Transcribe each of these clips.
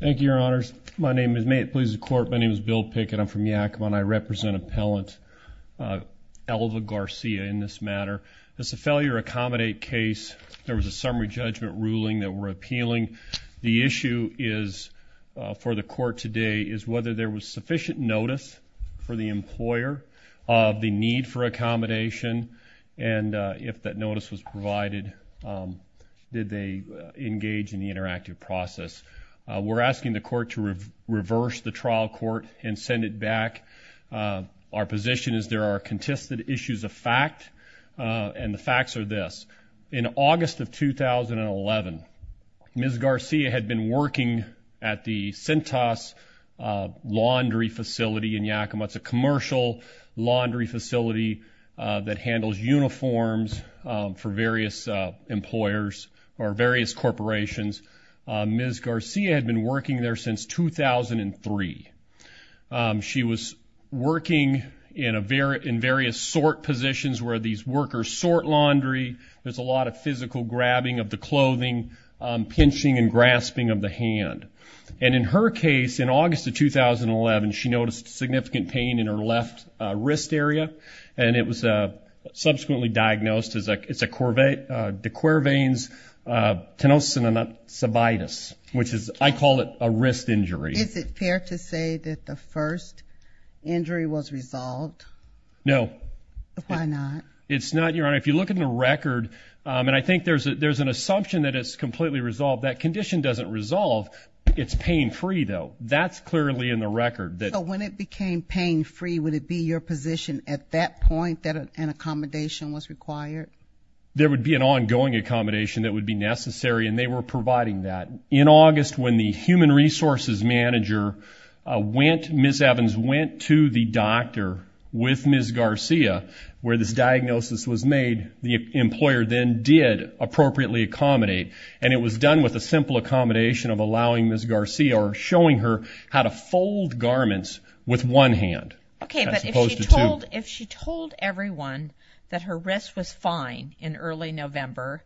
Thank you, Your Honors. May it please the Court, my name is Bill Pickett. I'm from Yakima and I represent Appellant Elva Garcia in this matter. This is a failure accommodate case. There was a summary judgment ruling that we're appealing. The issue is, for the Court today, is whether there was sufficient notice for the employer of the need for accommodation and if that notice was provided, did they engage in the interactive process. We're asking the Court to reverse the trial court and send it back. Our position is there are contested issues of fact and the facts are this. In August of 2011, Ms. Garcia had been working at the Cintas Laundry Facility in Yakima. It's a commercial laundry facility that handles uniforms for various employers or various corporations. Ms. Garcia had been working there since 2003. She was working in various sort positions where these workers sort laundry. There's a lot of physical grabbing of the clothing, pinching and grasping of the hand. And in her case, in August of 2011, she noticed significant pain in her left wrist area and it was subsequently diagnosed as a de Quervain's tenosynovitis, which is, I call it a wrist injury. Is it fair to say that the first injury was resolved? No. Why not? It's not, Your Honor. If you look at the record, and I think there's an assumption that it's completely resolved. That condition doesn't resolve. It's pain-free, though. That's clearly in the record. So when it became pain-free, would it be your position at that point that an accommodation was required? There would be an ongoing accommodation that would be necessary and they were providing that. In August, when the human resources manager went, Ms. Evans went to the doctor with Ms. Garcia, where this diagnosis was made, the employer then did appropriately accommodate and it was done with a simple accommodation of allowing Ms. Garcia or showing her how to fold garments with one hand as opposed to two. If she told everyone that her wrist was fine in early November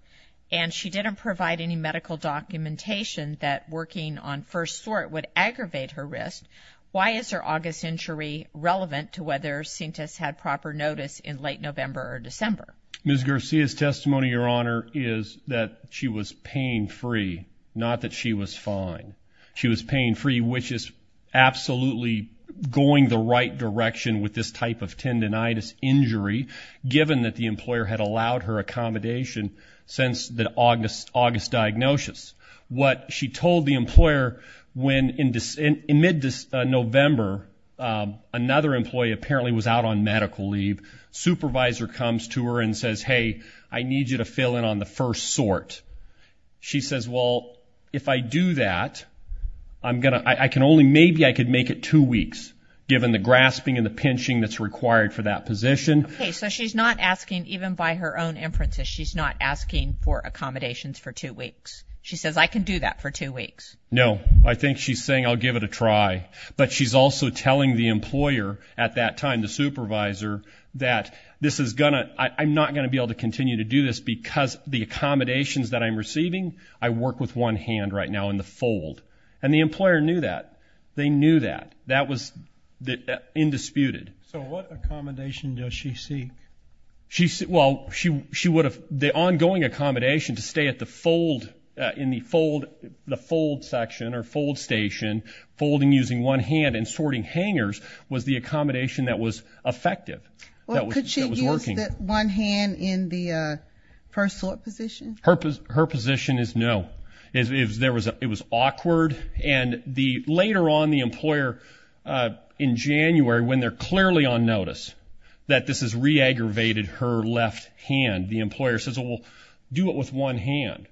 and she didn't provide any medical documentation that working on first sort would aggravate her wrist, why is her August injury relevant to whether Cintas had proper notice in late November or December? Ms. Garcia's testimony, Your Honor, is that she was pain-free, not that she was fine. She was pain-free, which is absolutely going the right direction with this type of tendonitis injury, given that the employer had allowed her accommodation since the August diagnosis. What she told the employer when in mid-November, another employee apparently was out on medical leave, supervisor comes to her and says, hey, I need you to fill in on the first sort. She says, well, if I do that, I'm going to, I can only, maybe I could make it two weeks, given the grasping and the pinching that's required for that position. Okay, so she's not asking, even by her own inferences, she's not asking for accommodations for two weeks. She says, I can do that for two weeks. No, I think she's saying I'll give it a try, but she's also telling the employer at that time, the supervisor, that this is going to, I'm not going to be able to continue to do this because the accommodations that I'm receiving, I work with one hand right now in the fold. And the employer knew that. They knew that. That was indisputed. So what accommodation does she seek? She, well, she would have, the ongoing accommodation to stay at the fold, in the fold, the fold section or fold station, folding using one hand and sorting hangers was the accommodation that was effective. That was working. Was that one hand in the first sort position? Her position is no. It was awkward. And later on, the employer, in January, when they're clearly on notice that this has re-aggravated her left hand, the employer says, well, do it with one hand.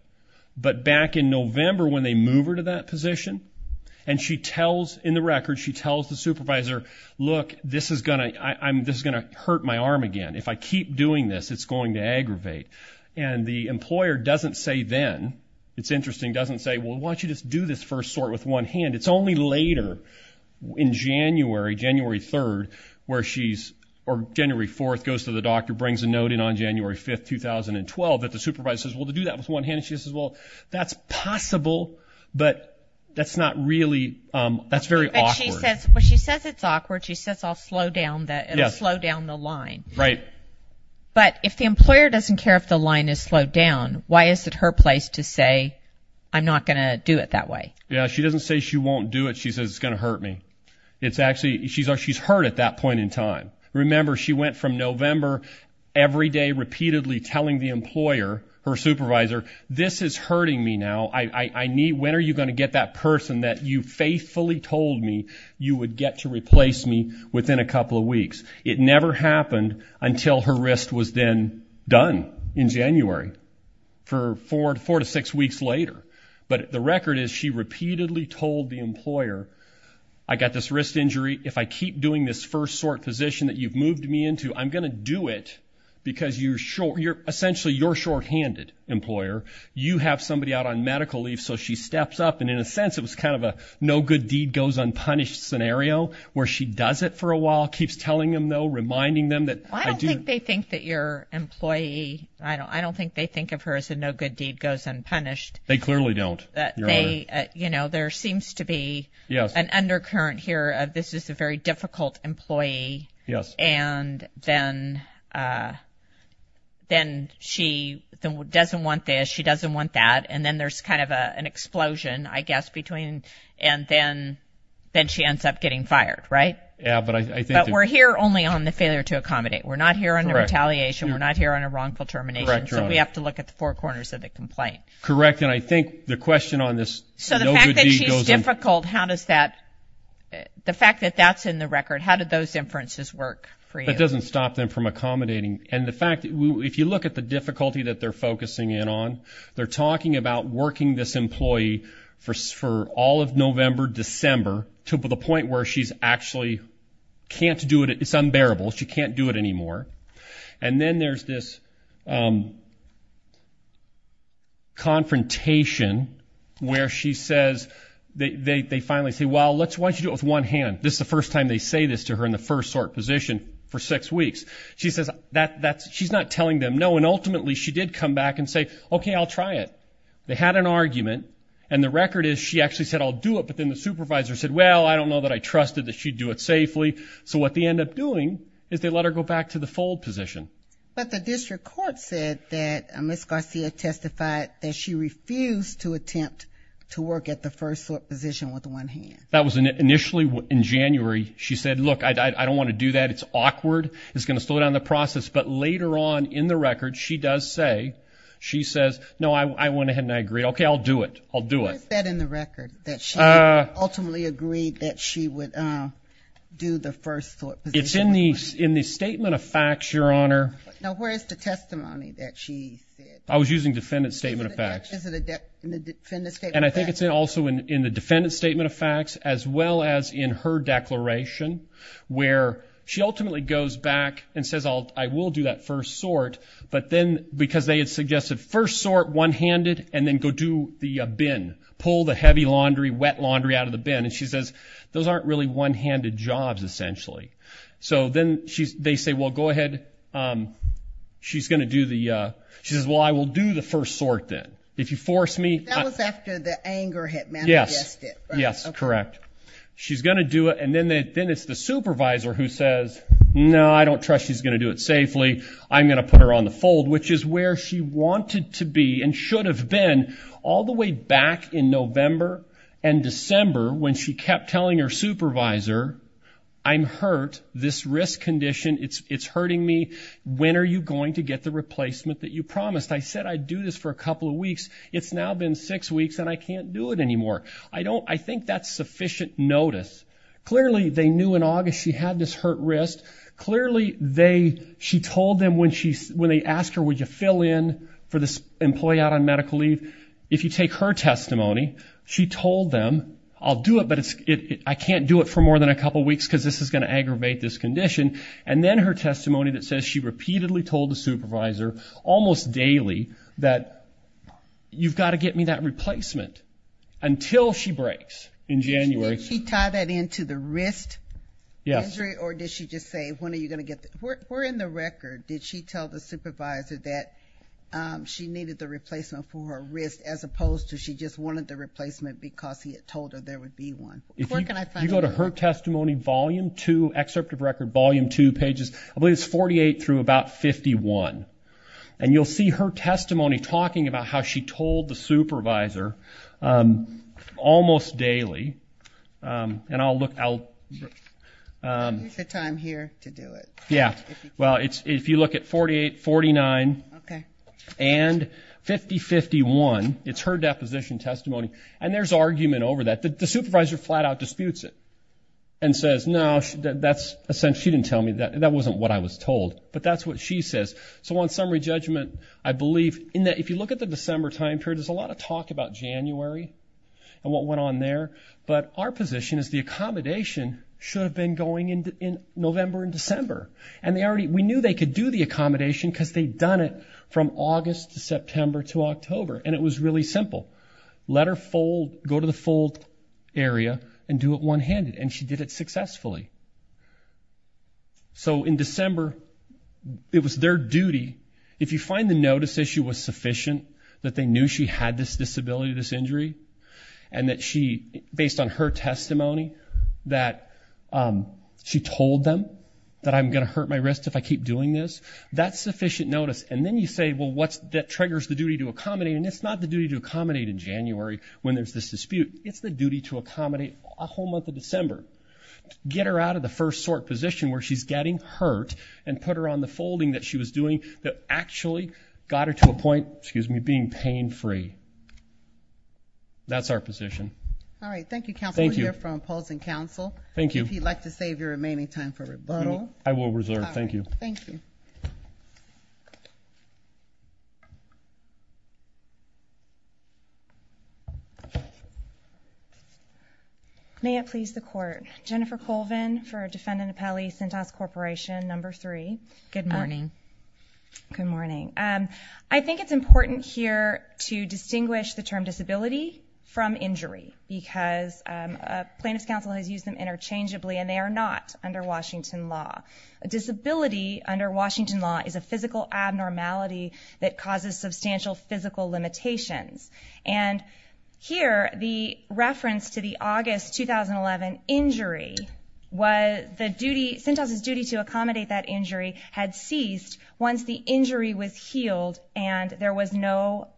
But back in November, when they move her to that position, and she tells, in the record, she tells the supervisor, look, this is going to, this is going to hurt my arm again. If I keep doing this, it's going to aggravate. And the employer doesn't say then, it's interesting, doesn't say, well, why don't you just do this first sort with one hand? It's only later, in January, January 3rd, where she's, or January 4th, goes to the doctor, brings a note in on January 5th, 2012, that the supervisor says, well, to do that with one hand. And she says, well, that's possible, but that's not really, that's very awkward. She says, well, she says it's awkward, she says, I'll slow down the, slow down the line. Right. But, if the employer doesn't care if the line is slowed down, why is it her place to say, I'm not going to do it that way? Yeah, she doesn't say she won't do it, she says, it's going to hurt me. It's actually, she's hurt at that point in time. Remember, she went from November, every day, repeatedly telling the employer, her supervisor, this is hurting me now, I need, when are you going to get that person that you faithfully told me you would get to replace me within a couple of weeks? It never happened until her wrist was then done, in January, for four to six weeks later. But the record is, she repeatedly told the employer, I got this wrist injury, if I keep doing this first sort position that you've moved me into, I'm going to do it, because you're short, you're, essentially, you're shorthanded, employer. You have somebody out on medical leave, so she steps up, and in a sense, it was kind of a no-good-deed-goes-unpunished scenario, where she does it for a while, keeps telling them, though, reminding them that, I do- I don't think they think that your employee, I don't think they think of her as a no-good-deed-goes-unpunished. They clearly don't, Your Honor. You know, there seems to be an undercurrent here of, this is a very difficult employee, and then she doesn't want this, she doesn't want that, and then there's kind of an explosion, I guess, between, and then, then she ends up getting fired, right? Yeah, but I think- But we're here only on the failure to accommodate. We're not here on a retaliation. Correct. We're not here on a wrongful termination. Correct, Your Honor. So, we have to look at the four corners of the complaint. Correct, and I think the question on this no-good-deed-goes-unpunished- So, the fact that she's difficult, how does that, the fact that that's in the record, how did those inferences work for you? That doesn't stop them from accommodating, and the fact, if you look at the difficulty that they're focusing in on, they're talking about working this employee for all of November, December, to the point where she's actually can't do it, it's unbearable, she can't do it anymore, and then there's this confrontation where she says, they finally say, well, let's watch you do it with one hand, this is the first time they say this to her in the first sort position for six weeks. She says, she's not telling them no, and ultimately, she did come back and say, okay, I'll try it. They had an argument, and the record is, she actually said, I'll do it, but then the supervisor said, well, I don't know that I trusted that she'd do it safely, so what they end up doing is they let her go back to the fold position. But the district court said that Ms. Garcia testified that she refused to attempt to work at the first sort position with one hand. That was initially in January, she said, look, I don't want to do that, it's awkward, it's going to slow down the process, but later on in the record, she does say, she says, no, I went ahead and I agreed, okay, I'll do it, I'll do it. Where's that in the record, that she ultimately agreed that she would do the first sort position with one hand? It's in the statement of facts, Your Honor. Now, where's the testimony that she said? I was using defendant's statement of facts. And I think it's also in the defendant's statement of facts, as well as in her declaration, where she ultimately goes back and says, I will do that first sort, but then, because they had suggested first sort, one-handed, and then go do the bin, pull the heavy laundry, wet laundry out of the bin, and she says, those aren't really one-handed jobs, essentially. So then they say, well, go ahead, she's going to do the, she says, well, I will do the first sort then, if you force me. That was after the anger had manifested. Yes, yes, correct. She's going to do it, and then it's the supervisor who says, no, I don't trust she's going to do it safely. I'm going to put her on the fold, which is where she wanted to be, and should have been, all the way back in November and December, when she kept telling her supervisor, I'm hurt, this risk condition, it's hurting me, when are you going to get the replacement that you promised? I said I'd do this for a couple of weeks. It's now been six weeks, and I can't do it anymore. I think that's sufficient notice. Clearly they knew in August she had this hurt wrist. Clearly she told them when they asked her, would you fill in for this employee out on medical leave? If you take her testimony, she told them, I'll do it, but I can't do it for more than a couple of weeks, because this is going to aggravate this condition. And then her testimony that says she repeatedly told the supervisor, almost daily, that you've got to get me that replacement, until she breaks in January. Did she tie that into the wrist injury, or did she just say, when are you going to get the, where in the record did she tell the supervisor that she needed the replacement for her wrist, as opposed to she just wanted the replacement because he had told her there would be one? If you go to her testimony, volume two, excerpt of record, volume two, pages, I believe it's 48 through about 51. And you'll see her testimony talking about how she told the supervisor, almost daily, and I'll look, I'll... Here's the time here to do it. Yeah. Well, if you look at 48, 49, and 50, 51, it's her deposition testimony, and there's argument over that. The supervisor flat out disputes it, and says, no, that's, essentially, she didn't tell me that, that wasn't what I was told. But that's what she says. So, on summary judgment, I believe, in that, if you look at the December time period, there's a lot of talk about January, and what went on there, but our position is the accommodation should have been going in November and December. And they already, we knew they could do the accommodation, because they'd done it from August to September to October, and it was really simple. Let her fold, go to the fold area, and do it one-handed, and she did it successfully. So, in December, it was their duty, if you find the notice issue was sufficient, that they knew she had this disability, this injury, and that she, based on her testimony, that she told them that I'm going to hurt my wrist if I keep doing this, that's sufficient notice. And then you say, well, that triggers the duty to accommodate, and it's not the duty to accommodate in January, when there's this dispute. It's the duty to accommodate a whole month of December. Get her out of the first sort position, where she's getting hurt, and put her on the folding that she was doing that actually got her to a point, excuse me, being pain-free. That's our position. All right. Thank you, counsel. Thank you. We'll hear from opposing counsel. Thank you. If you'd like to save your remaining time for rebuttal. I will reserve. Thank you. All right. Thank you. May it please the court. Jennifer Colvin for defendant appellee, Sintas Corporation, number three. Good morning. Good morning. I think it's important here to distinguish the term disability from injury, because plaintiff's counsel has used them interchangeably, and they are not under Washington law. A disability under Washington law is a physical abnormality that causes substantial physical limitations. And here, the reference to the August 2011 injury, Sintas' duty to accommodate that injury had ceased once the injury was healed, and there was no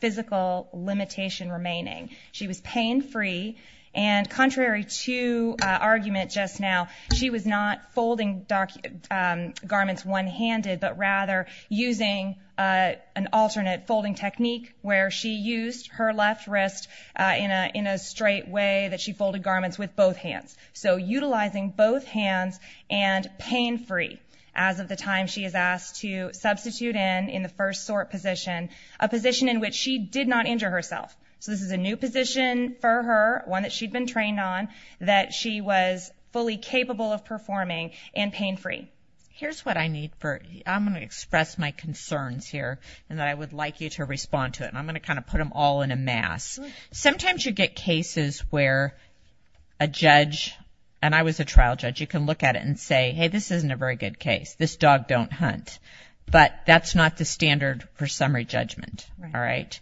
physical limitation remaining. She was pain-free. And contrary to argument just now, she was not folding garments one-handed, but rather using an alternate folding technique where she used her left wrist in a straight way that she folded garments with both hands. So utilizing both hands and pain-free as of the time she is asked to substitute in in the first sort position, a position in which she did not injure herself. So this is a new position for her, one that she'd been trained on, that she was fully capable of performing and pain-free. Here's what I need for, I'm going to express my concerns here, and I would like you to respond to it. And I'm going to kind of put them all in a mass. Sometimes you get cases where a judge, and I was a trial judge, you can look at it and say, hey, this isn't a very good case. This dog don't hunt. But that's not the standard for summary judgment, all right?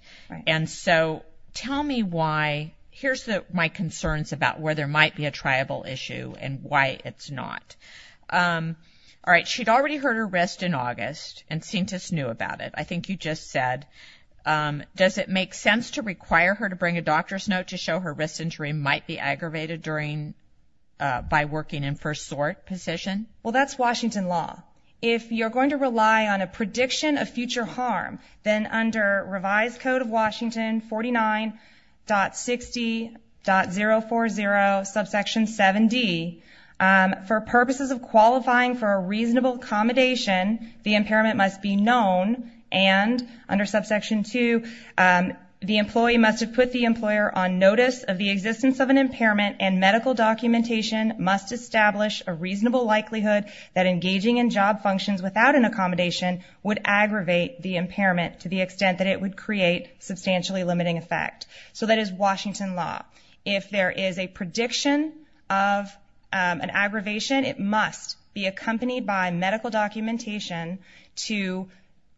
And so tell me why, here's my concerns about where there might be a triable issue and why it's not. All right, she'd already hurt her wrist in August, and Sintas knew about it. I think you just said, does it make sense to require her to bring a doctor's note to show her wrist injury might be aggravated by working in first sort position? Well that's Washington law. If you're going to rely on a prediction of future harm, then under revised code of Washington 49.60.040 subsection 7D, for purposes of qualifying for a reasonable accommodation, the impairment must be known, and under subsection 2, the employee must have put the employer on notice of the existence of an impairment, and medical documentation must establish a reasonable likelihood that engaging in job functions without an accommodation would aggravate the impairment to the extent that it would create substantially limiting effect. So that is Washington law. If there is a prediction of an aggravation, it must be accompanied by medical documentation to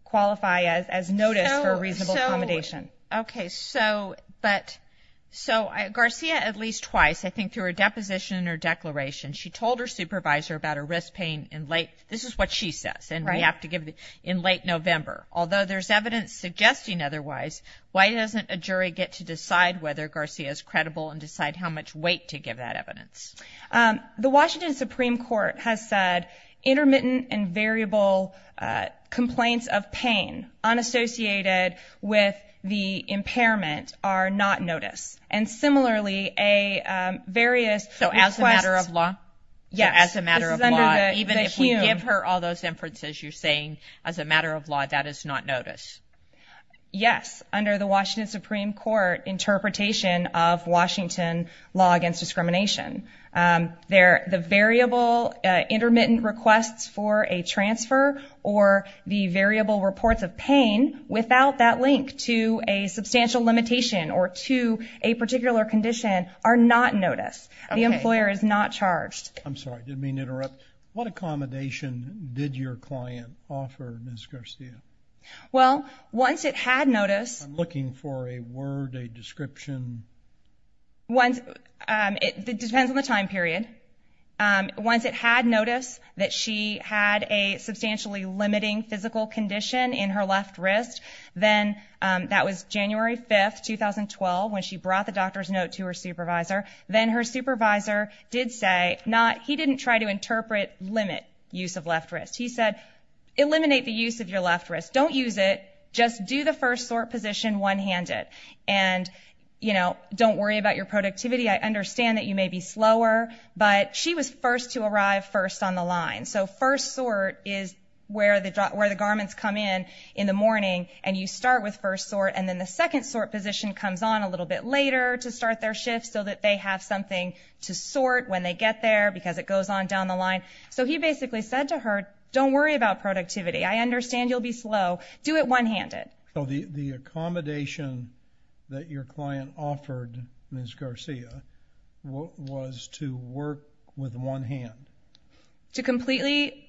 qualify as notice for a reasonable accommodation. Okay, so Garcia at least twice, I think through her deposition or declaration, she told her supervisor about her wrist pain in late, this is what she says, in late November. Although there's evidence suggesting otherwise, why doesn't a jury get to decide whether Garcia is credible and decide how much weight to give that evidence? The Washington Supreme Court has said intermittent and variable complaints of pain, unassociated with the impairment, are not notice. And similarly, a various request. So as a matter of law? Yes. As a matter of law. Even if we give her all those inferences, you're saying as a matter of law that is not notice. Yes, under the Washington Supreme Court interpretation of Washington law against discrimination. The variable intermittent requests for a transfer or the variable reports of pain without that link to a substantial limitation or to a particular condition are not notice. The employer is not charged. I'm sorry, did I mean to interrupt? What accommodation did your client offer Ms. Garcia? Well, once it had notice. I'm looking for a word, a description. It depends on the time period. Once it had notice that she had a substantially limiting physical condition in her left wrist, then that was January 5th, 2012, when she brought the doctor's note to her supervisor. Then her supervisor did say, he didn't try to interpret limit use of left wrist. He said, eliminate the use of your left wrist. Don't use it. Just do the first sort position one handed. And don't worry about your productivity. I understand that you may be slower, but she was first to arrive first on the line. So first sort is where the garments come in in the morning and you start with first sort. And then the second sort position comes on a little bit later to start their shift so that they have something to sort when they get there because it goes on down the line. So he basically said to her, don't worry about productivity. I understand you'll be slow. Do it one handed. So the accommodation that your client offered Ms. Garcia was to work with one hand? To completely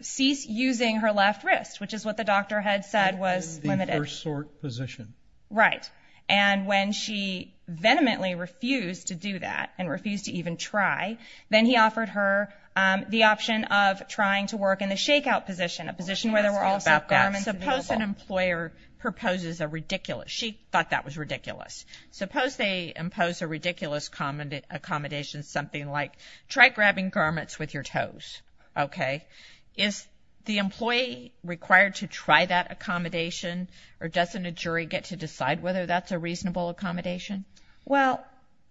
cease using her left wrist, which is what the doctor had said was limited. In the first sort position. Right. And when she vehemently refused to do that and refused to even try, then he offered her the option of trying to work in the shakeout position, a position where there were also garments available. Suppose an employer proposes a ridiculous, she thought that was ridiculous. Suppose they impose a ridiculous accommodation, something like, try grabbing garments with your toes, okay? Is the employee required to try that accommodation or doesn't a jury get to decide whether they think that's a reasonable accommodation? Well,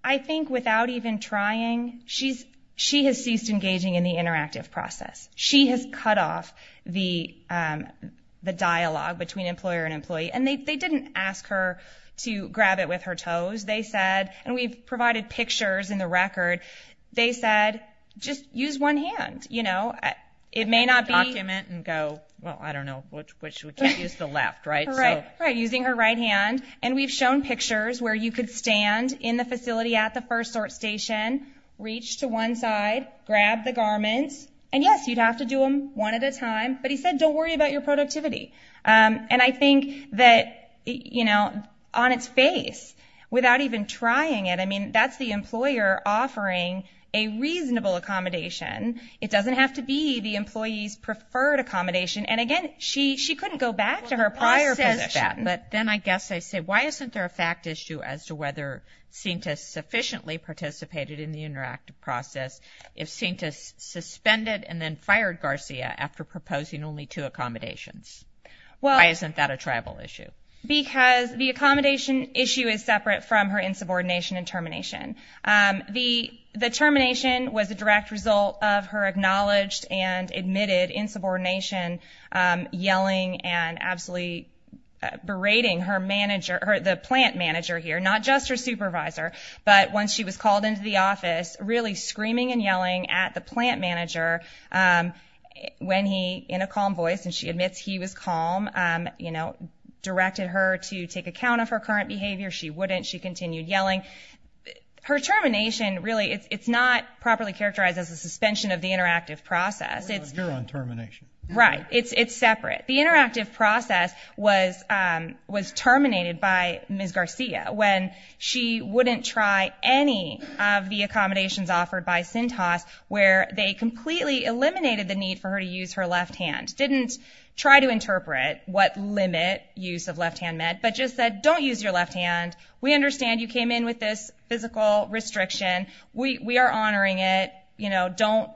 I think without even trying, she has ceased engaging in the interactive process. She has cut off the dialogue between employer and employee. And they didn't ask her to grab it with her toes. They said, and we've provided pictures in the record, they said, just use one hand, you know? It may not be- Document and go, well, I don't know, we can't use the left, right? Right. Using her right hand, and we've shown pictures where you could stand in the facility at the first sort station, reach to one side, grab the garments, and yes, you'd have to do them one at a time, but he said, don't worry about your productivity. And I think that, you know, on its face, without even trying it, I mean, that's the employer offering a reasonable accommodation. It doesn't have to be the employee's preferred accommodation. And again, she couldn't go back to her prior position. Well, I'll say that, but then I guess I say, why isn't there a fact issue as to whether Cintas sufficiently participated in the interactive process if Cintas suspended and then fired Garcia after proposing only two accommodations? Why isn't that a tribal issue? Because the accommodation issue is separate from her insubordination and termination. The termination was a direct result of her acknowledged and admitted insubordination, yelling and absolutely berating her manager, the plant manager here, not just her supervisor, but once she was called into the office, really screaming and yelling at the plant manager when he, in a calm voice, and she admits he was calm, you know, directed her to take account of her current behavior. She wouldn't. She continued yelling. Her termination, really, it's not properly characterized as a suspension of the interactive process. You're on termination. Right. It's separate. The interactive process was terminated by Ms. Garcia when she wouldn't try any of the accommodations offered by Cintas where they completely eliminated the need for her to use her left hand. Didn't try to interpret what limit use of left hand meant, but just said, don't use your left hand. We understand you came in with this physical restriction. We are honoring it. You know, don't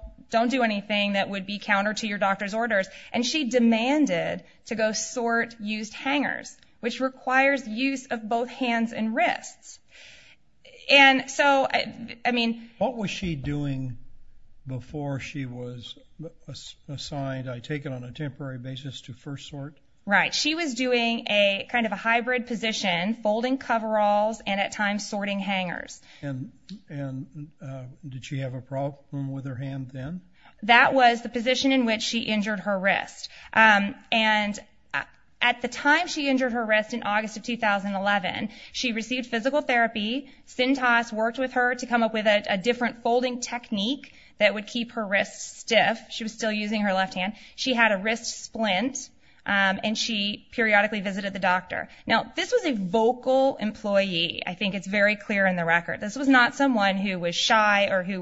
do anything that would be counter to your doctor's orders. And she demanded to go sort used hangers, which requires use of both hands and wrists. And so, I mean... What was she doing before she was assigned, taken on a temporary basis to first sort? Right. She was doing a kind of a hybrid position, folding coveralls and at times sorting hangers. And did she have a problem with her hand then? That was the position in which she injured her wrist. And at the time she injured her wrist in August of 2011, she received physical therapy. Cintas worked with her to come up with a different folding technique that would keep her wrist stiff. She was still using her left hand. She had a wrist splint and she periodically visited the doctor. Now, this was a vocal employee. I think it's very clear in the record. This was not someone who was shy or who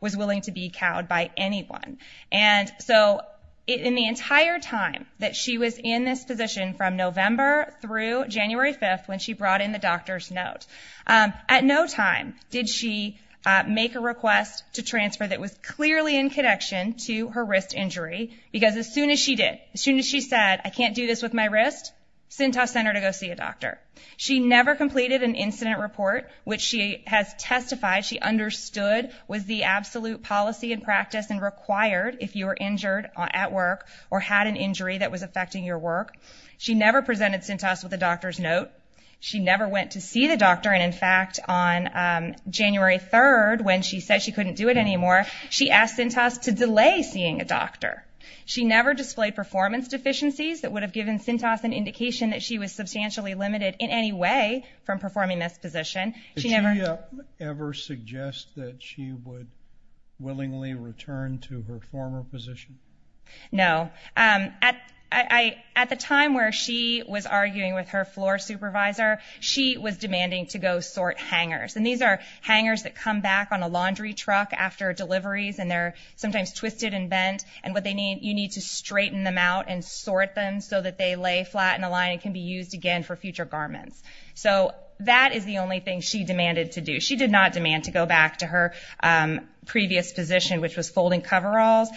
was willing to be cowed by anyone. And so, in the entire time that she was in this position from November through January 5th when she brought in the doctor's note, at no time did she make a request to transfer that was clearly in connection to her wrist injury because as soon as she did, as soon as she said, I can't do this with my wrist, Cintas sent her to go see a doctor. She never completed an incident report which she has testified she understood was the absolute policy and practice and required if you were injured at work or had an injury that was affecting your work. She never presented Cintas with a doctor's note. She never went to see the doctor and in fact on January 3rd when she said she couldn't do it anymore, she asked Cintas to delay seeing a doctor. She never displayed performance deficiencies that would have given Cintas an indication that she was substantially limited in any way from performing this position. She never... Did she ever suggest that she would willingly return to her former position? No. At the time where she was arguing with her floor supervisor, she was demanding to go sort hangers. These are hangers that come back on a laundry truck after deliveries and they're sometimes twisted and bent and what they need, you need to straighten them out and sort them so that they lay flat in a line and can be used again for future garments. So that is the only thing she demanded to do. She did not demand to go back to her previous position which was folding coveralls.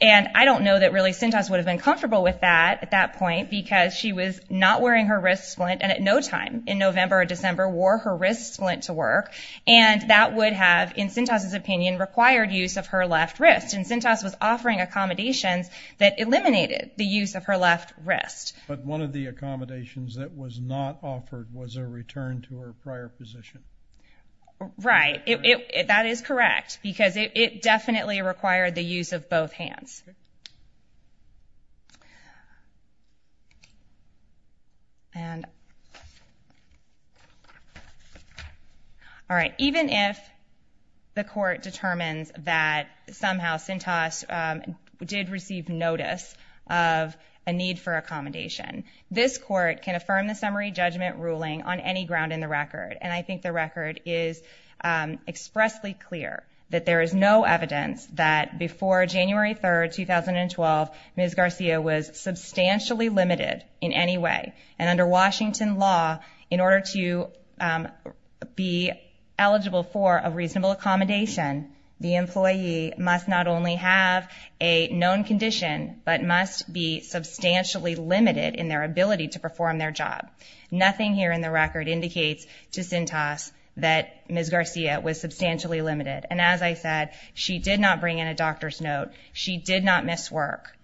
I don't know that really Cintas would have been comfortable with that at that point because she was not wearing her wrist splint and at no time in November or December wore her wrist splint to work and that would have, in Cintas' opinion, required use of her left wrist and Cintas was offering accommodations that eliminated the use of her left wrist. But one of the accommodations that was not offered was a return to her prior position. Right. That is correct because it definitely required the use of both hands. All right, even if the court determines that somehow Cintas did receive notice of a need for accommodation, this court can affirm the summary judgment ruling on any ground in the record and I think the record is expressly clear that there is no evidence that before January 3, 2012, Ms. Garcia was substantially limited in any way and under Washington law, in order to be eligible for a reasonable accommodation, the employee must not only have a known condition but must be substantially limited in their ability to perform their job. Nothing here in the record indicates to Cintas that Ms. Garcia was substantially limited and as I said, she did not bring in a doctor's note, she did not miss work,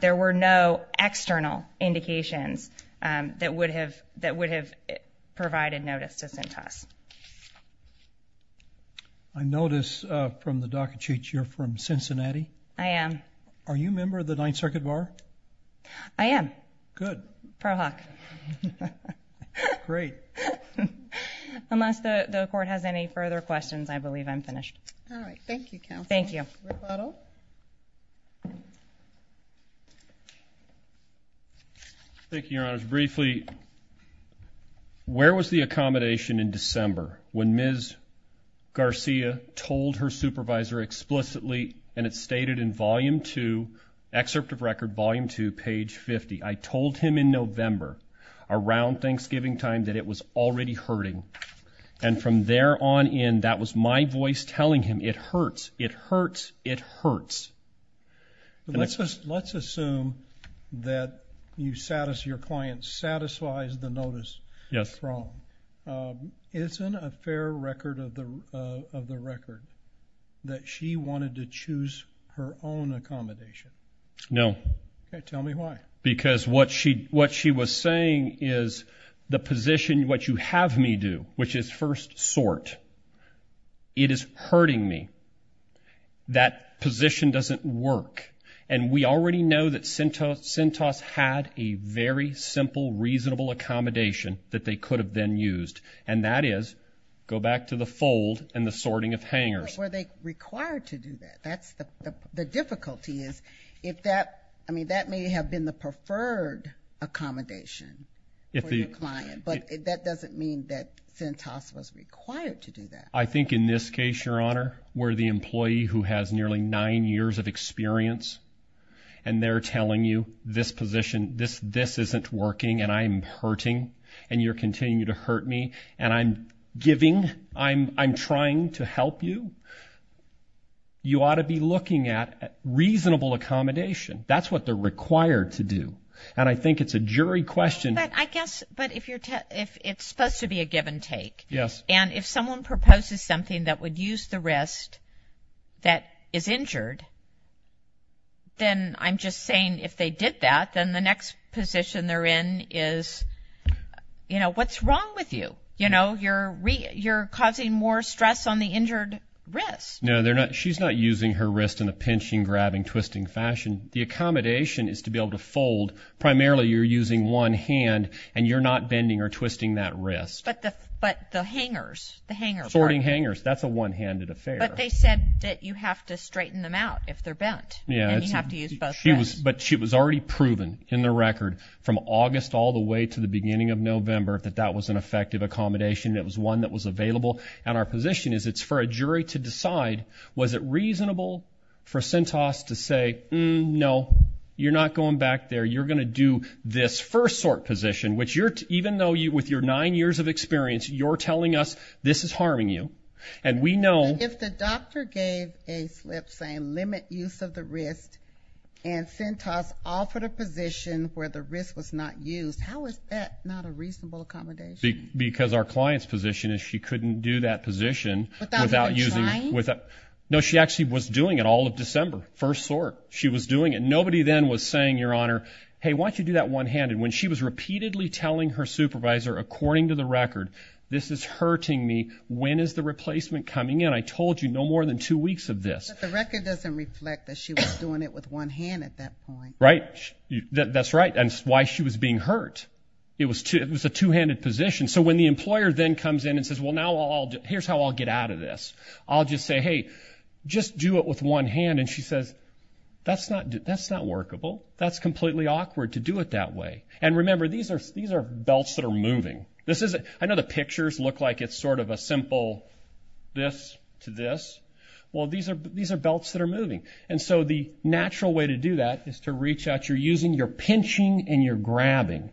there were no external indications that would have provided notice to Cintas. I notice from the docket sheet you're from Cincinnati. I am. Are you a member of the Ninth Circuit Bar? I am. Good. Pro hoc. Great. Unless the court has any further questions, I believe I'm finished. All right. Thank you, counsel. Thank you. Rebuttal. Thank you, your honors. Briefly, where was the accommodation in December when Ms. Garcia told her supervisor explicitly and it's stated in volume two, excerpt of record volume two, page 50, I told him in And from there on in, that was my voice telling him, it hurts, it hurts, it hurts. Let's assume that you satisfy, your client satisfies the notice from, isn't a fair record of the record that she wanted to choose her own accommodation? No. Tell me why. Because what she, what she was saying is the position, what you have me do, which is first sort, it is hurting me. That position doesn't work. And we already know that Cintas had a very simple, reasonable accommodation that they could have then used. And that is, go back to the fold and the sorting of hangers. Were they required to do that? That's the difficulty is if that, I mean, that may have been the preferred accommodation if the client, but that doesn't mean that Cintas was required to do that. I think in this case, your honor, where the employee who has nearly nine years of experience and they're telling you this position, this, this isn't working and I'm hurting and you're continuing to hurt me and I'm giving, I'm, I'm trying to help you. You ought to be looking at reasonable accommodation. That's what they're required to do. And I think it's a jury question. I guess, but if you're, if it's supposed to be a give and take and if someone proposes something that would use the wrist that is injured, then I'm just saying if they did that, then the next position they're in is, you know, what's wrong with you? You know, you're, you're causing more stress on the injured wrist. No, they're not. She's not using her wrist in a pinching, grabbing, twisting fashion. The accommodation is to be able to fold. Primarily you're using one hand and you're not bending or twisting that wrist. But the hangers, the hangers. Sorting hangers. That's a one handed affair. But they said that you have to straighten them out if they're bent and you have to use both wrists. She was, but she was already proven in the record from August all the way to the beginning of November that that was an effective accommodation and it was one that was available and our position is it's for a jury to decide. Was it reasonable for Cintas to say, no, you're not going back there. You're going to do this first sort position, which you're even though you with your nine years of experience, you're telling us this is harming you. And we know if the doctor gave a slip saying limit use of the wrist and Cintas offered a position where the wrist was not used. How is that not a reasonable accommodation? Because our client's position is she couldn't do that position without using, without, no, she actually was doing it all of December. First sort. She was doing it. Nobody then was saying, your honor, hey, why don't you do that one handed when she was repeatedly telling her supervisor, according to the record, this is hurting me. When is the replacement coming in? I told you no more than two weeks of this. The record doesn't reflect that she was doing it with one hand at that point, right? That's right. And why she was being hurt. It was too. It was a two handed position. So when the employer then comes in and says, well, now I'll do, here's how I'll get out of this. I'll just say, hey, just do it with one hand. And she says, that's not, that's not workable. That's completely awkward to do it that way. And remember, these are, these are belts that are moving. This is, I know the pictures look like it's sort of a simple this to this. Well, these are, these are belts that are moving. And so the natural way to do that is to reach out. You're using, you're pinching and you're grabbing.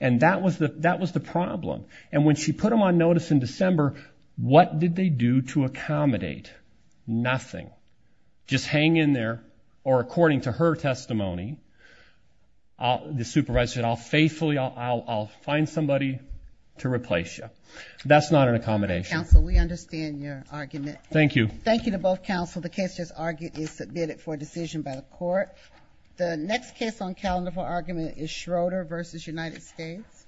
And that was the, that was the problem. And when she put them on notice in December, what did they do to accommodate? Nothing. Just hang in there. Or according to her testimony, the supervisor said, I'll faithfully, I'll, I'll, I'll find somebody to replace you. That's not an accommodation. Counsel, we understand your argument. Thank you. Thank you to both counsel. The case just argued is submitted for decision by the court. The next case on calendar for argument is Schroeder v. United States.